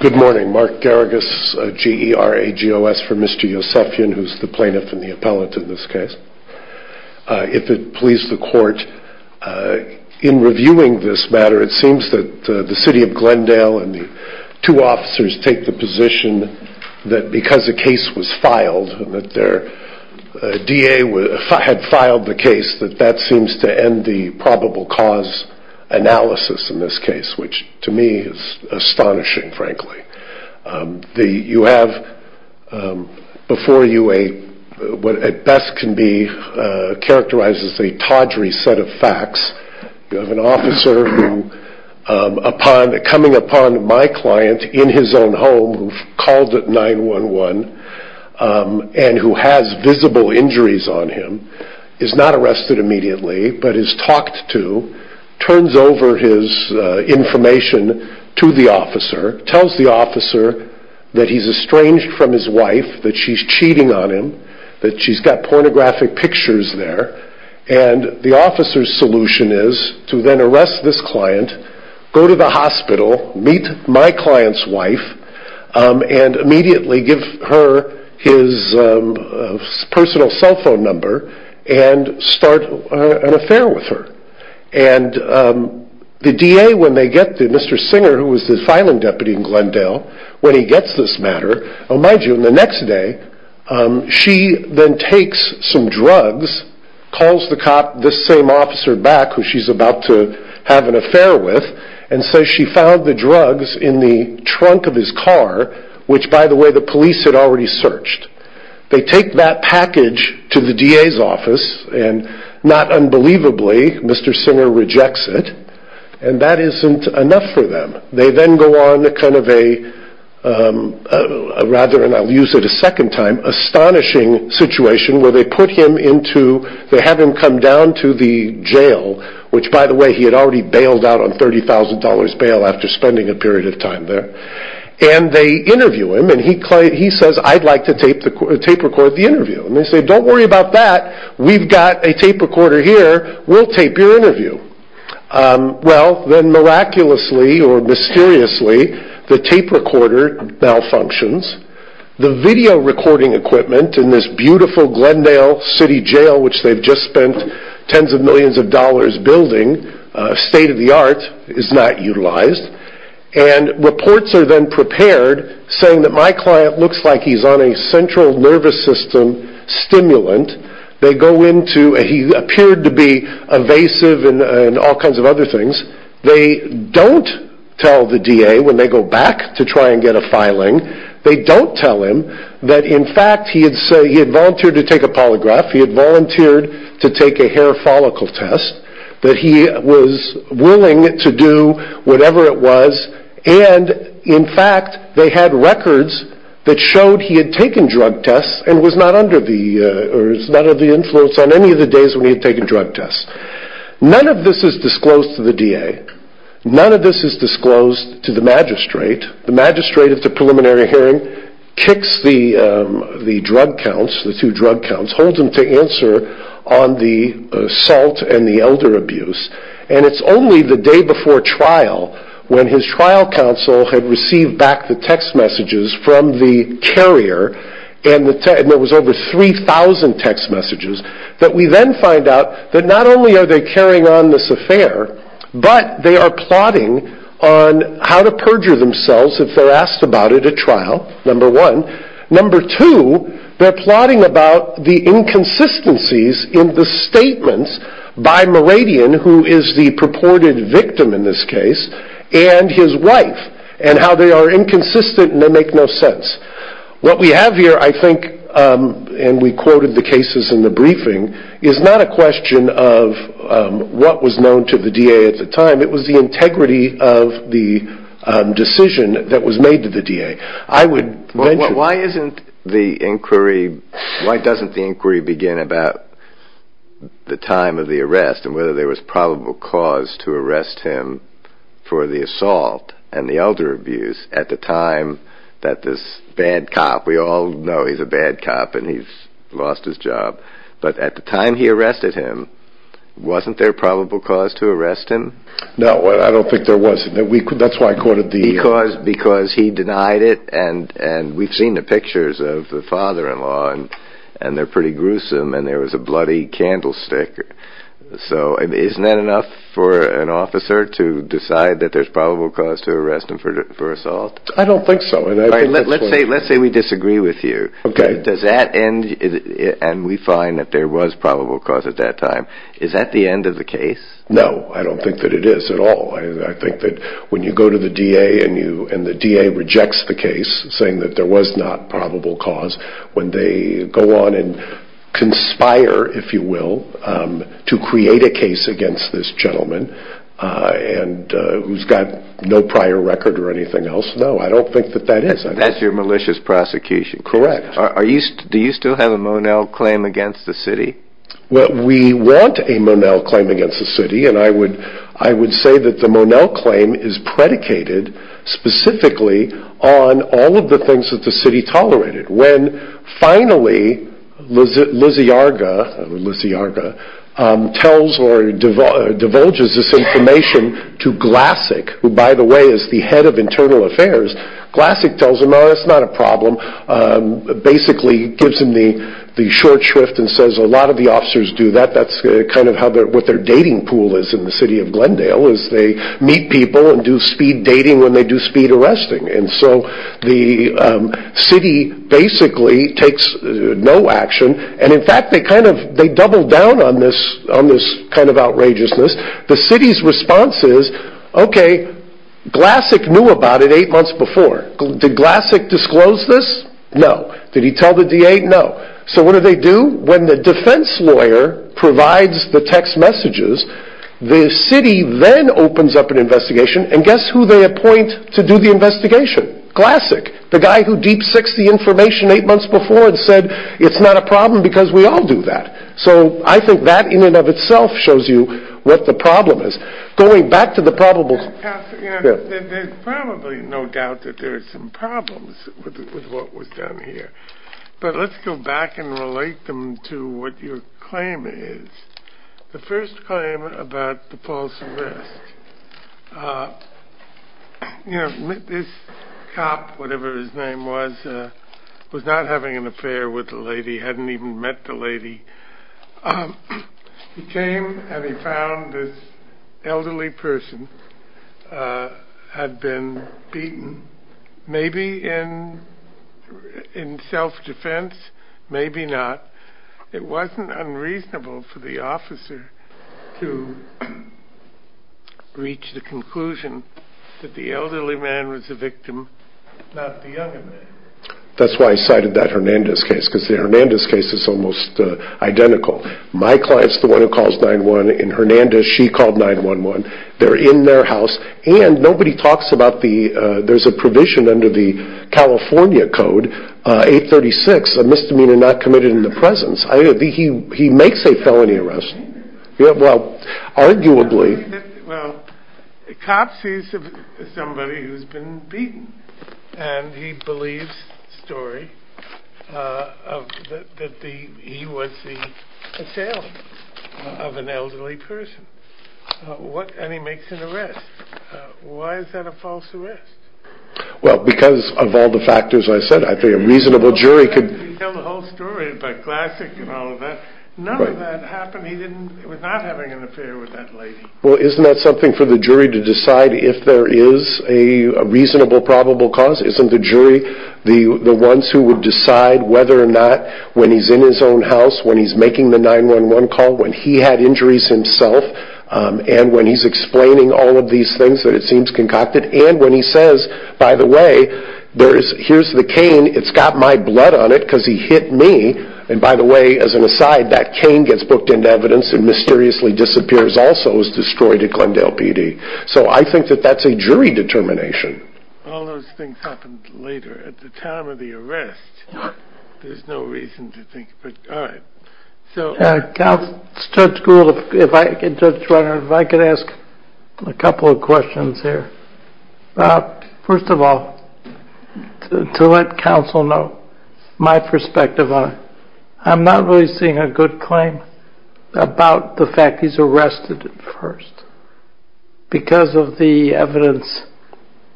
Good morning, Mark Garagos, GERAGOS for Mr. Yousefian, who is the plaintiff and the appellate in this case. If it please the court, in reviewing this matter, it seems that the City of Glendale and the two officers take the position that because a case was filed, that their DA had filed the case, that that seems to end the probable cause analysis in this case, which to me is astonishing, frankly. You have before you what at best can be characterized as a tawdry set of facts. You have an officer coming upon my client in his own home, who called at 9-1-1 and who has visible injuries on him, is not arrested immediately, but is talked to, turns over his information to the officer, tells the officer that he's estranged from his wife, that she's cheating on him, that she's got pornographic pictures there, and the officer's solution is to then arrest this client, go to the hospital, meet my client's wife, and immediately give her his personal cell phone number and start an affair with her. The DA, when they get to Mr. Singer, who was the filing deputy in Glendale, when he gets this matter, oh mind you, the next day, she then takes some drugs, calls the cop, this same officer back, who she's about to have an affair with, and says she found the drugs in the trunk of his car, which by the way, the police had already searched. They take that package to the DA's office, and not unbelievably, Mr. Singer rejects it, and that isn't enough for them. They then go on to kind of a, rather, and I'll use it a second time, astonishing situation where they put him into, they have him come down to the jail, which by the way, he had already bailed out on $30,000 bail after spending a period of time there, and they interview him, and he says, I'd like to tape record the interview, and they say, don't worry about that, we've got a tape recorder here, we'll tape your interview. Well, then miraculously, or mysteriously, the tape recorder malfunctions, the video recording equipment in this beautiful Glendale city jail, which they've just spent tens of millions of dollars building, state of the art, is not utilized, and reports are then prepared, saying that my client looks like he's on a central nervous system stimulant, they go into, he appeared to be evasive and all kinds of other things, they don't tell the DA when they go back to try and get a filing, they don't tell him that in fact, he had volunteered to take a polygraph, he had volunteered to take a hair follicle test, that he was willing to do whatever it was, and in fact, they had records that showed he had taken drug tests, and was not under the, or was not under the influence on any of the days when he had taken drug tests. None of this is disclosed to the DA, none of this is disclosed to the magistrate, the magistrate at the preliminary hearing kicks the drug counts, the two drug counts, holds them to answer on the assault and the elder abuse, and it's only the day before trial, when his trial counsel had received back the text messages from the carrier, and there was over 3,000 text messages, that we then find out that not only are they carrying on this affair, but they are plotting on how to perjure themselves if they are asked about it at trial, number one, number two, they are plotting about the inconsistencies in the statements by Meridian, who is the purported victim in this case, and his wife, and how they are inconsistent and they make no sense. What we have here, I think, and we quoted the cases in the briefing, is not a question of what was known to the DA at the time, it was the integrity of the decision that was made to the DA. I would... Why isn't the inquiry, why doesn't the inquiry begin about the time of the arrest and whether there was probable cause to arrest him for the assault and the elder abuse at the time that this bad cop, we all know he's a bad cop and he's lost his job, but at the time he arrested him, wasn't there probable cause to arrest him? No, I don't think there was, that's why I quoted the... Because he denied it and we've seen the pictures of the father-in-law and they're pretty gruesome and there was a bloody candlestick, so isn't that enough for an officer to decide that there's probable cause to arrest him for assault? I don't think so. Let's say we disagree with you. Does that end, and we find that there was probable cause at that time, is that the end of the case? No, I don't think that it is at all. I think that when you go to the DA and the DA rejects the case saying that there was not probable cause, when they go on and conspire, if you will, to create a case against this gentleman who's got no prior record or anything else, no, I don't think that that is. That's your malicious prosecution. Correct. Do you still have a Monell claim against the city? Well, we want a Monell claim against the city and I would say that the Monell claim is predicated specifically on all of the things that the city tolerated. When finally Lisiarga tells or divulges this information to Glassic, who by the way is the head of internal affairs, Glassic tells him, oh, that's not a problem, basically gives him the short shrift and says, a lot of the officers do that, that's kind of what their dating pool is in the city of Glendale, is they meet people and do speed dating when they do speed arresting. The city basically takes no action and in fact they double down on this kind of outrageousness. The city's response is, okay, Glassic knew about it eight months before. Did Glassic disclose this? No. Did he tell the DA? No. So what do they do? When the defense lawyer provides the text messages, the city then opens up an investigation and guess who they mention? Glassic, the guy who deep-sixed the information eight months before and said, it's not a problem because we all do that. So I think that in and of itself shows you what the problem is. Going back to the probable... There's probably no doubt that there's some problems with what was done here, but let's go back and relate them to what your claim is. The first claim about the false arrest, you know, this cop, whatever his name was, was not having an affair with the lady, hadn't even met the lady. He came and he found this elderly person had been beaten, maybe in self-defense, maybe not. It wasn't unreasonable for the officer to reach the conclusion that the elderly man was the victim, not the young man. That's why I cited that Hernandez case, because the Hernandez case is almost identical. My client's the one who calls 9-1-1. In Hernandez, she called 9-1-1. They're in their house, and nobody talks about the... There's a provision under the California Code, 836, a misdemeanor not committed in the presence. He makes a felony arrest. Well, arguably... Well, the cop sees somebody who's been beaten, and he believes story that he was the assailant of an elderly person, and he makes an arrest. Why is that a false arrest? Well, because of all the factors I said. I think a reasonable jury could... He told the whole story about classic and all of that. None of that happened. He was not having an affair with that lady. Well, isn't that something for the jury to decide if there is a reasonable, probable cause? Isn't the jury the ones who would decide whether or not, when he's in his own house, when he's making the 9-1-1 call, when he had injuries himself, and when he's explaining all of these things that it seems concocted, and when he says, by the way, here's the cane. It's got my blood on it, because he hit me. By the way, as an aside, that cane gets booked into evidence and mysteriously disappears, also is destroyed at Glendale PD. I think that that's a jury determination. All those things happen later, at the time of the arrest. There's no reason to think... Judge Gould, if I could ask a couple of questions here. First of all, to let counsel know my perspective on it. I'm not really seeing a good claim about the fact he's arrested at first, because of the evidence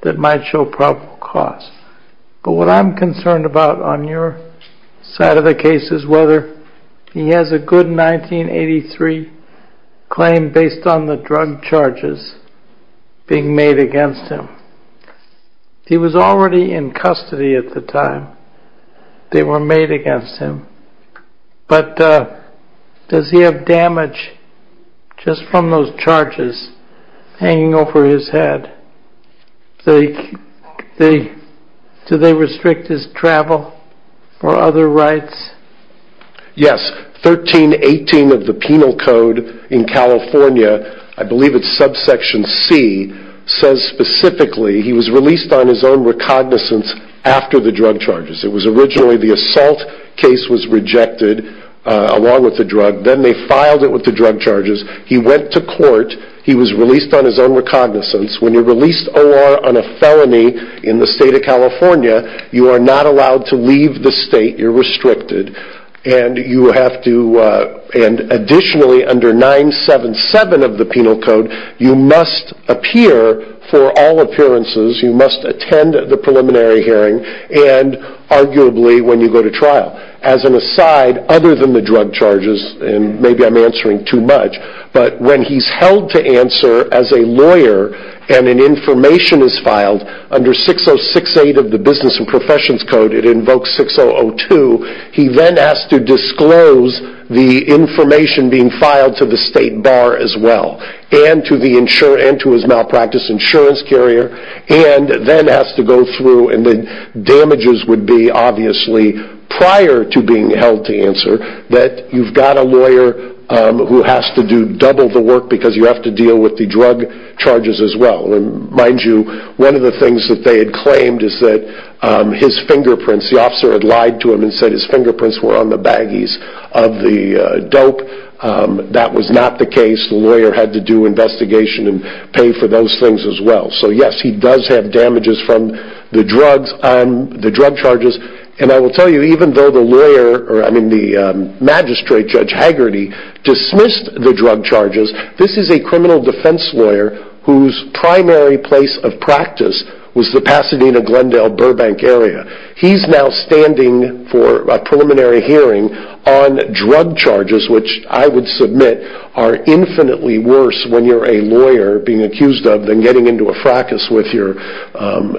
that might show probable cause. But what I'm concerned about, on your side of the case, is whether he has a good 1983 claim based on the drug charges being made against him. He was already in custody at the time they were made against him, but does he have damage just from those charges hanging over his head? Do they restrict his travel or other rights? Yes. 1318 of the Penal Code in California, I believe it's subsection C, says specifically he was released on his own recognizance after the drug charges. It was originally the assault case was rejected, along with the drug. Then they filed it with the drug charges. He went to court. He was released on his own recognizance. When you're released OR on a felony in the state, you're not allowed to leave the state. You're restricted. Additionally, under 977 of the Penal Code, you must appear for all appearances. You must attend the preliminary hearing and arguably when you go to trial. As an aside, other than the drug charges, and maybe I'm answering too much, but when he's held to answer as a lawyer and an information is filed under 6068 of the Business and Professions Code, it invokes 6002, he then has to disclose the information being filed to the state bar as well and to his malpractice insurance carrier and then has to go through, and the damages would be obviously prior to being held to answer, that you've got a lawyer who has to do double the work because you have to deal with the drug charges as well. Mind you, one of the things that they had claimed is that his fingerprints, the officer had lied to him and said his fingerprints were on the baggies of the dope. That was not the case. The lawyer had to do investigation and pay for those things as well. So yes, he does have damages from the drugs on the drug charges. And I will tell you, even though the magistrate, Judge Hagerty, dismissed the drug charges, this is a criminal defense lawyer whose primary place of practice was the Pasadena-Glendale-Burbank area. He's now standing for a preliminary hearing on drug charges, which I would submit are infinitely worse when you're a lawyer being accused of than getting into a fracas with your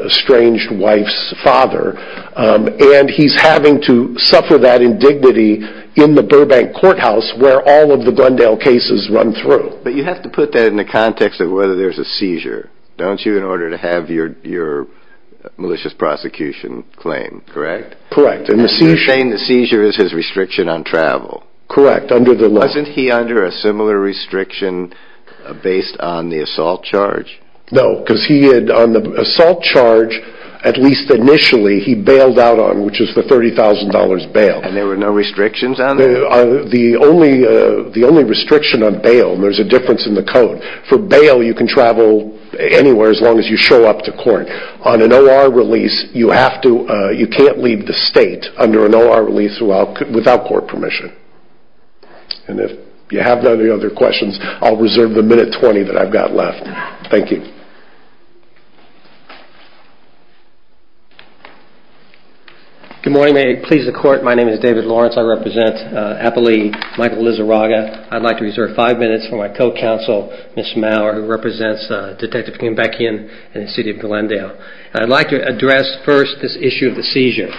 estranged wife's father. And he's having to suffer that indignity in the Burbank courthouse where all of the Glendale cases run through. But you have to put that in the context of whether there's a seizure, don't you, in order to have your malicious prosecution claimed, correct? Correct. And you're saying the seizure is his restriction on travel. Correct, under the law. Wasn't he under a similar restriction based on the assault charge? No, because he had on the assault charge, at least initially, he bailed out on, which is the $30,000 bail. And there were no restrictions on that? The only restriction on bail, and there's a difference in the code, for bail you can travel anywhere as long as you show up to court. On an OR release, you can't leave the state under an OR release without court permission. And if you have any other questions, I'll reserve the minute 20 that I've got left. Thank you. Good morning. May it please the court, my name is David Lawrence. I represent Appali Michael Lizarraga. I'd like to reserve five minutes for my co-counsel, Ms. Mauer, who represents Detective Kimbeckian and the city of Glendale. I'd like to address first this issue of the seizure.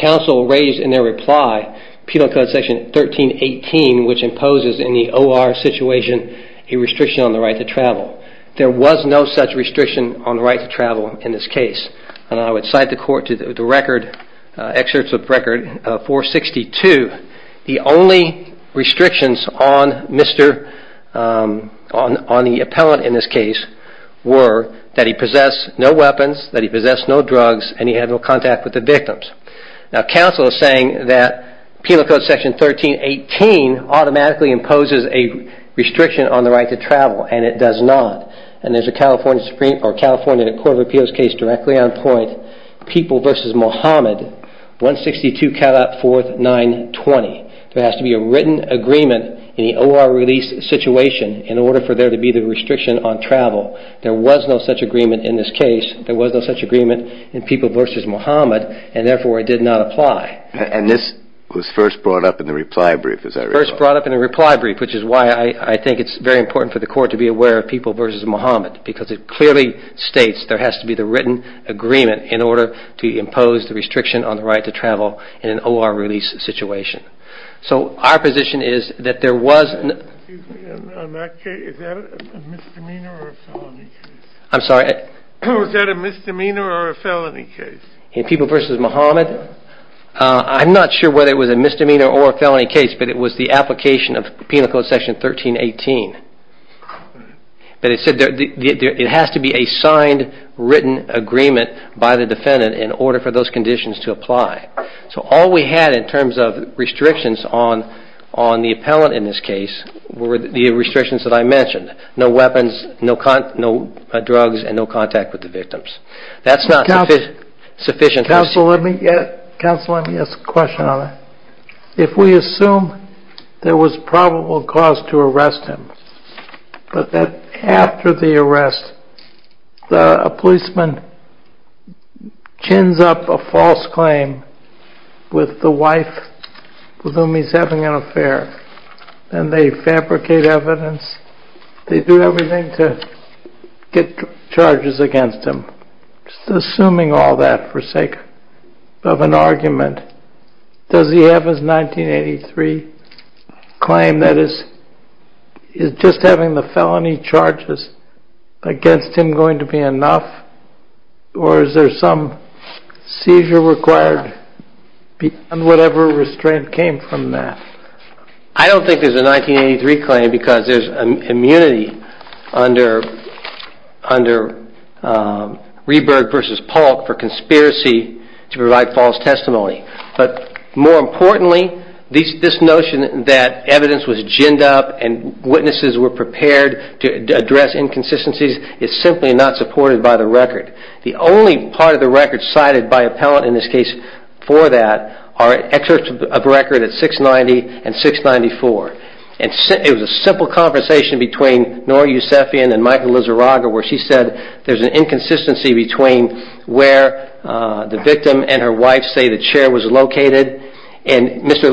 Counsel raised in their reply, Penal Code Section 1318, which imposes in the OR situation a restriction on the right to travel. There was no such restriction on the right to travel in this case. And I would cite the court to the record, excerpts of record 462, the only restrictions on the appellant in this case were that he possessed no weapons, that he possessed no drugs, and he had no contact with the victims. Now, counsel is saying that Penal Code Section 1318 automatically imposes a restriction on the right to travel, and it does not. And there's a California Supreme, or California Court of Appeals case directly on point, People v. Mohamed, 162-4920. There has to be a written agreement in the OR release situation in order for there to be the restriction on travel. There was no such agreement in this case. There was no such agreement in People v. Mohamed, and therefore it did not apply. And this was first brought up in the reply brief, is that right? First brought up in the reply brief, which is why I think it's very important for the court to be aware of People v. Mohamed, because it clearly states there has to be the written agreement in order to impose the restriction on the right to travel in an OR release situation. So our position is that there was... Excuse me, on that case, is that a misdemeanor or a felony case? I'm sorry? Was that a misdemeanor or a felony case? In People v. Mohamed, I'm not sure whether it was a misdemeanor or a felony case, but it was the application of Penal Code Section 1318. But it said it has to be a signed, written agreement by the defendant in order for those conditions to apply. So all we had in terms of restrictions on the appellant in this case were the restrictions that I mentioned. No weapons, no drugs, and no contact with the victims. That's not sufficient... Counsel, let me ask a question on it. If we assume there was probable cause to arrest him, but that after the arrest, a policeman chins up a false claim with the wife with whom he's having an affair, and they fabricate evidence, they do everything to get charges against him. Assuming all that for sake of an argument, does he have his 1983 claim that is, is just having the felony charges against him going to be enough? Or is there some seizure required beyond whatever restraint came from that? I don't think there's a 1983 claim because there's immunity under Reberg v. Polk for conspiracy to provide false testimony. But more importantly, this notion that evidence was ginned up and witnesses were prepared to address inconsistencies is simply not supported by the record. The only part of the record cited by appellant in this case for that are records at 690 and 694. It was a simple conversation between Noor Yousefian and Michael Lizarraga where she said there's an inconsistency between where the victim and her wife say the chair was located, and Mr.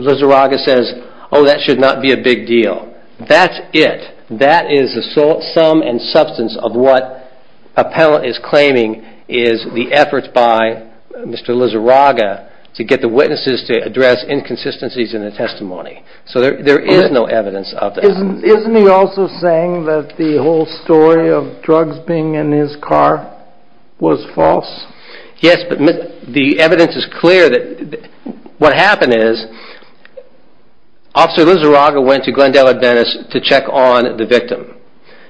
Lizarraga says, oh, that should not be a big deal. That's it. That is the sum and substance of what appellant is claiming is the efforts by Mr. Lizarraga to get the witnesses to address inconsistencies in the testimony. So there is no evidence of that. Isn't he also saying that the whole story of drugs being in his car was false? Yes, but the evidence is clear that what happened is Officer Lizarraga went to Glendale Adventist to check on the victim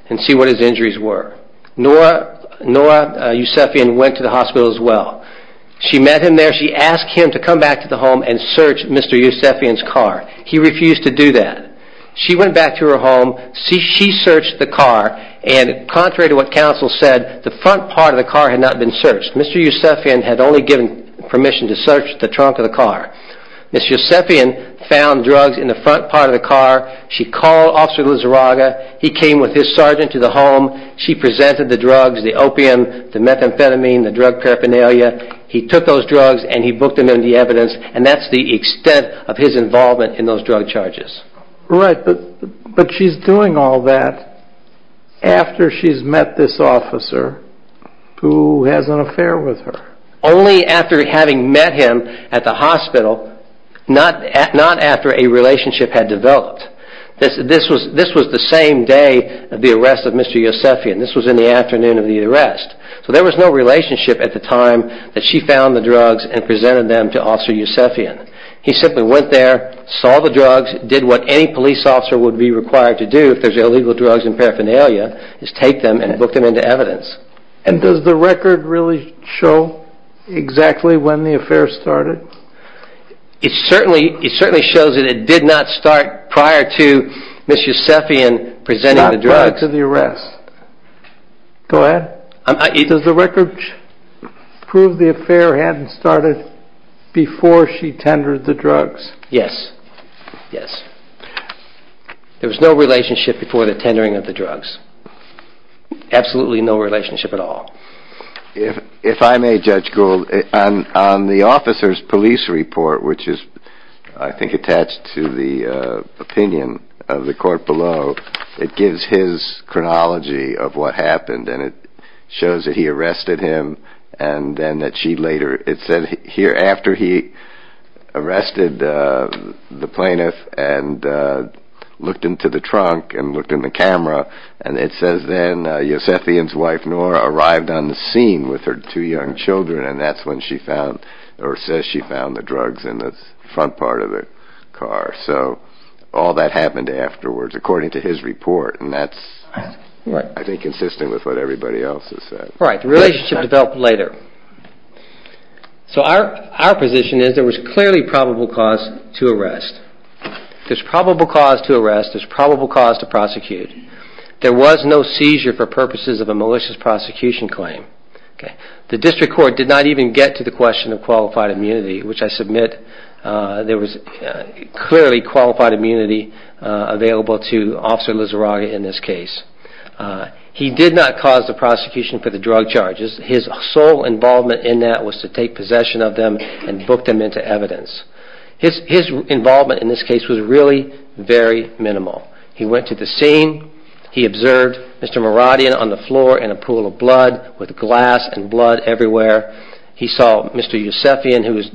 and see what his injuries were. Noor Yousefian went to the hospital as well. She met him there. She asked him to come back to the home and search Mr. Yousefian's car. He refused to do that. She went back to her home. She searched the car, and contrary to what counsel said, the front part of the car had not been searched. Mr. Yousefian had only given permission to search the trunk of the car. Ms. Yousefian found drugs in the front part of the car. She called Officer Lizarraga. He came with his sergeant to the He took those drugs and he booked them in the evidence, and that's the extent of his involvement in those drug charges. Right, but she's doing all that after she's met this officer who has an affair with her. Only after having met him at the hospital, not after a relationship had developed. This was the same day of the arrest of Mr. Yousefian. This was no relationship at the time that she found the drugs and presented them to Officer Yousefian. He simply went there, saw the drugs, did what any police officer would be required to do if there's illegal drugs in paraphernalia, is take them and book them into evidence. And does the record really show exactly when the affair started? It certainly shows that it did not start prior to Ms. Yousefian presenting the drugs. Not prior to the arrest. Go ahead. Does the record prove the affair hadn't started before she tendered the drugs? Yes. Yes. There was no relationship before the tendering of the drugs. Absolutely no relationship at all. If I may, Judge Gould, on the officer's police report, which is I think attached to the opinion of the court below, it gives his chronology of what happened and it shows that he arrested him and then that she later, it said here after he arrested the plaintiff and looked into the trunk and looked in the camera and it says then Yousefian's wife Nora arrived on the scene with her two young children and that's when she found or says she found the according to his report and that's I think consistent with what everybody else has said. Right. The relationship developed later. So our position is there was clearly probable cause to arrest. There's probable cause to arrest. There's probable cause to prosecute. There was no seizure for purposes of a malicious prosecution claim. The district court did not even get to the question of qualified immunity, which I submit there was clearly qualified immunity available to Officer Lizarraga in this case. He did not cause the prosecution for the drug charges. His sole involvement in that was to take possession of them and book them into evidence. His involvement in this case was really very minimal. He went to the scene. He observed Mr. Maradian on the floor in a pool of blood with glass and blood everywhere. He saw Mr. Yousefian, who was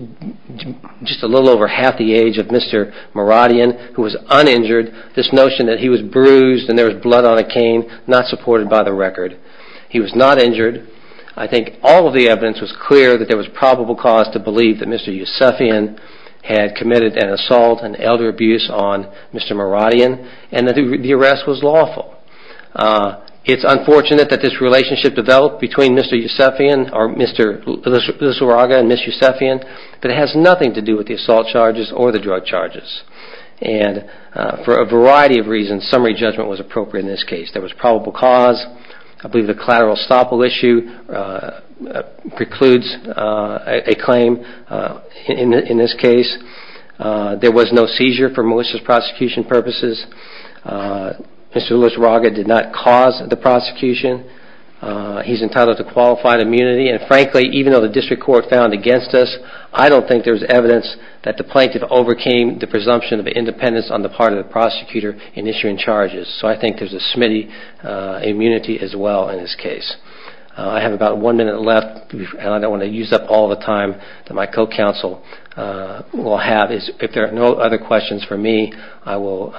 just a little over half the age of Mr. Maradian, who was uninjured. This notion that he was bruised and there was blood on a cane, not supported by the record. He was not injured. I think all of the evidence was clear that there was probable cause to believe that Mr. Yousefian had committed an assault, an elder abuse on Mr. Maradian and that the arrest was lawful. It's unfortunate that this relationship developed between Mr. Yousefian or Mr. Lizarraga and Ms. Yousefian, but it has nothing to do with the assault charges or the drug charges. For a variety of reasons, summary judgment was appropriate in this case. There was probable cause. I believe the collateral estoppel issue precludes a claim in this case. There was no seizure for malicious prosecution purposes. Mr. Lizarraga did not cause the prosecution. He's entitled to qualified immunity. And frankly, even though the district court found against us, I don't think there's evidence that the plaintiff overcame the presumption of independence on the part of the prosecutor in issuing charges. So I think there's a smitty immunity as well in this case. I have about one minute left, and I don't want to use up all the time that my co-counsel will have. If there are no other questions for me, I will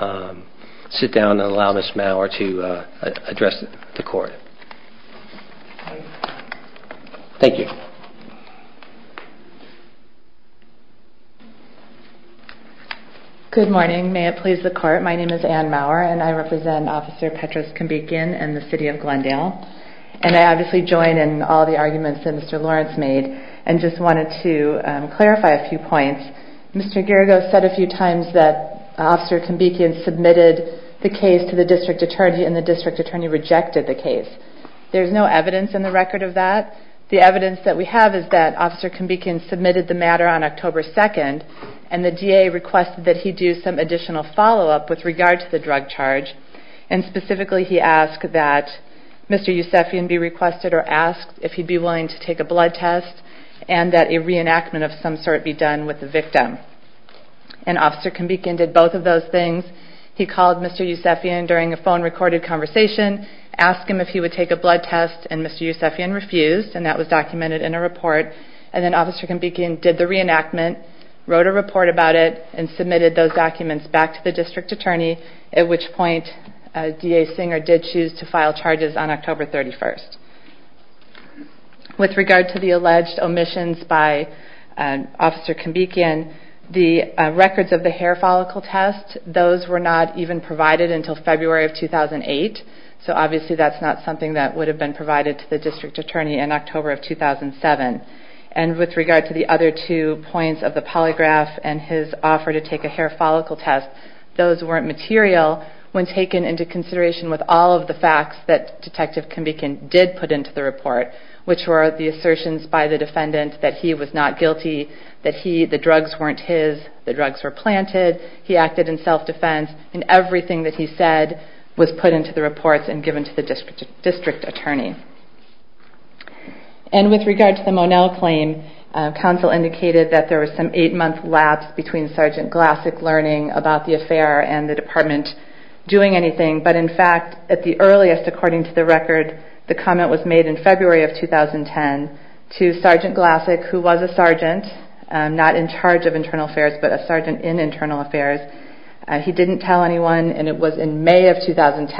sit down and allow Ms. Maurer to address the court. Thank you. Good morning. May it please the court. My name is Anne Maurer, and I represent Officer Petrus Kambikian and the city of Glendale. And I obviously join in all the arguments that Mr. Lawrence made and just wanted to clarify a few points. Mr. Geragos said a few Kambikian submitted the case to the district attorney and the district attorney rejected the case. There's no evidence in the record of that. The evidence that we have is that Officer Kambikian submitted the matter on October 2nd, and the DA requested that he do some additional follow-up with regard to the drug charge. And specifically, he asked that Mr. Yousefian be requested or asked if he'd be willing to take a blood test and that a reenactment of some sort be done with the victim. And Officer Kambikian did both of those things. He called Mr. Yousefian during a phone-recorded conversation, asked him if he would take a blood test, and Mr. Yousefian refused, and that was documented in a report. And then Officer Kambikian did the reenactment, wrote a report about it, and submitted those documents back to the district attorney, at which point DA Singer did choose to file charges on October 31st. With regard to the alleged omissions by Officer Kambikian, the records of the hair follicle test, those were not even provided until February of 2008, so obviously that's not something that would have been provided to the district attorney in October of 2007. And with regard to the other two points of the polygraph and his offer to take a hair follicle test, those weren't material when taken into consideration with all of the facts that Detective Kambikian did put into the report, which were the assertions by the defendant that he was not guilty, that the drugs weren't his, the drugs were planted, he acted in self-defense, and everything that he said was put into the reports and given to the district attorney. And with regard to the Monell claim, counsel indicated that there was some eight-month lapse between Sergeant Glassick learning about the affair and the department doing anything, but in fact, at the earliest, according to the record, the comment was made in February of 2010 to Sergeant Glassick, who was a sergeant, not in charge of internal affairs, but a sergeant in internal affairs, he didn't tell anyone, and it was in May of 2010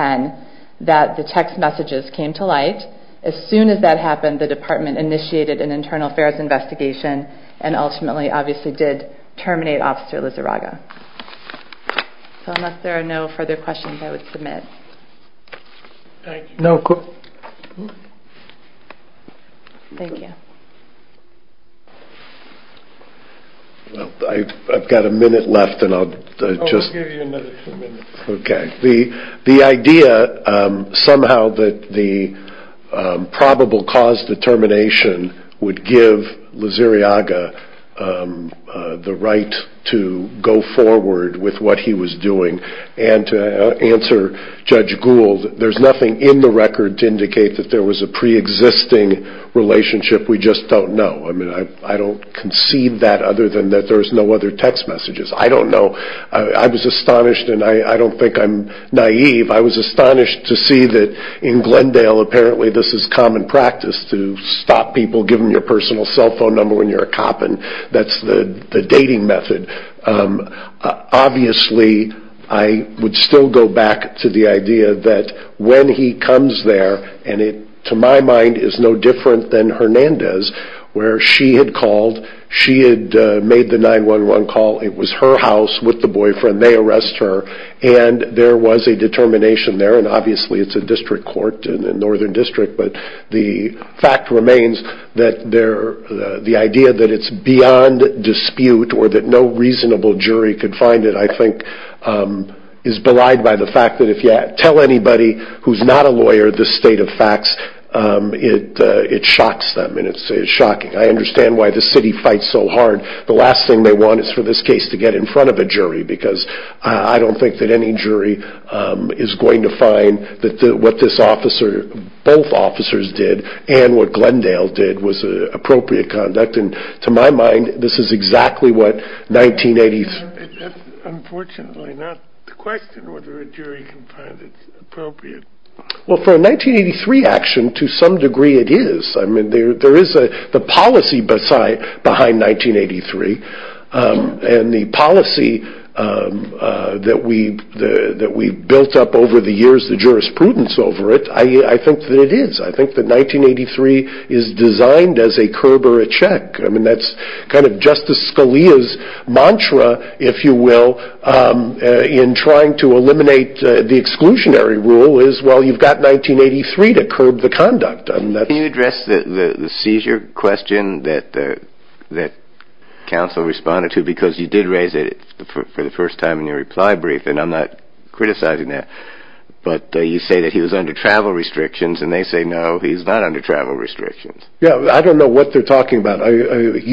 that the text messages came to light. As soon as that happened, the department initiated an internal affairs investigation and ultimately obviously did terminate Officer Lizarraga. So unless there are no further questions, I would submit. Thank you. Thank you. I've got a minute left and I'll just... I'll give you another two minutes. Okay. The idea, somehow, that the probable cause determination would give Lizarraga the right to go forward with what he was doing and to answer Judge Gould, there's nothing in the record to indicate that there was a pre-existing relationship. We just don't know. I mean, I don't concede that other than that there's no other text messages. I don't know. I was astonished, and I don't think I'm naive. I was astonished to see that in Glendale, apparently, this is common practice to stop people, give them your personal cell phone number when you're a cop, and that's the dating method. Obviously, I would still go back to the idea that when he comes there, and it, to my mind, is no different than Hernandez, where she had called. She had made the 911 call. It was her house with the boyfriend. They arrest her, and there was a determination there, and obviously it's a district court and a northern district, but the fact remains that the idea that it's beyond dispute or that no reasonable jury could find it, I think, is belied by the fact that if you tell anybody who's not a lawyer this state of facts, it shocks them, and it's shocking. I understand why the city fights so hard. The last thing they want is for this case to get in front of a jury because I don't think that any jury is going to find that what both officers did and what Glendale did was appropriate conduct, and to my mind, this is exactly what 1983... That's unfortunately not the question, whether a jury can find it appropriate. Well, for a 1983 action, to some degree it is. There is a policy behind 1983, and the policy that we've built up over the years, the jurisprudence over it, I think that it is. I think that 1983 is designed as a curb or a check. I mean, that's kind of Justice Scalia's mantra, if you will, in trying to eliminate the exclusionary rule is, well, you've got 1983 to curb the conduct. Can you address the seizure question that counsel responded to? Because you did raise it for the first time in your reply brief, and I'm not criticizing that, but you say that he was under travel restrictions, and they say, no, he's not under travel restrictions. Yeah, I don't know what they're talking about. When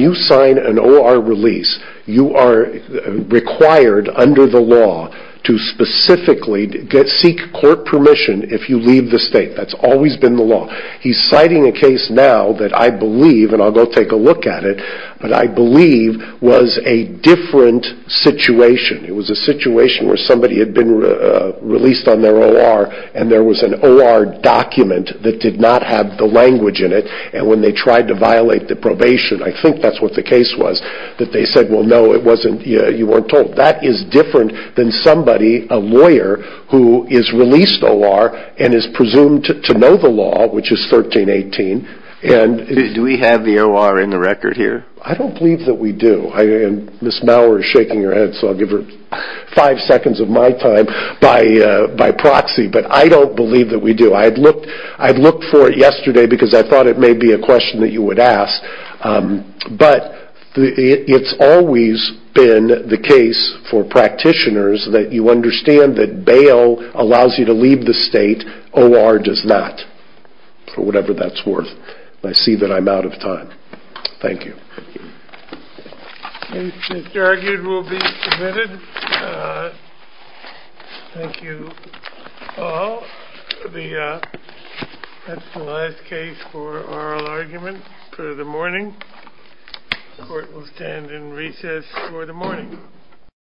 you sign an O.R. release, you are required under the law to specifically seek court permission if you leave the state. That's always been the law. He's citing a case now that I believe, and I'll go take a look at it, but I believe was a different situation. It was a situation where somebody had been released on their O.R., and there was an O.R. document that did not have the language in it, and when they tried to violate the probation, I think that's what the case was, that they said, well, no, you weren't told. That is different than somebody, a lawyer, who is released O.R. and is presumed to know the law, which is 1318. Do we have the O.R. in the record here? I don't believe that we do. Ms. Mauer is shaking her head, so I'll give her five seconds of my time by proxy, but I don't believe that we do. I looked for it yesterday because I thought it may be a question that you would ask, but it's always been the case for practitioners that you understand that bail allows you to leave the state. O.R. does not, for whatever that's worth. I see that I'm out of time. Thank you. This argument will be submitted. Thank you all. That's the last case for oral argument. For the morning. Court will stand in recess for the morning.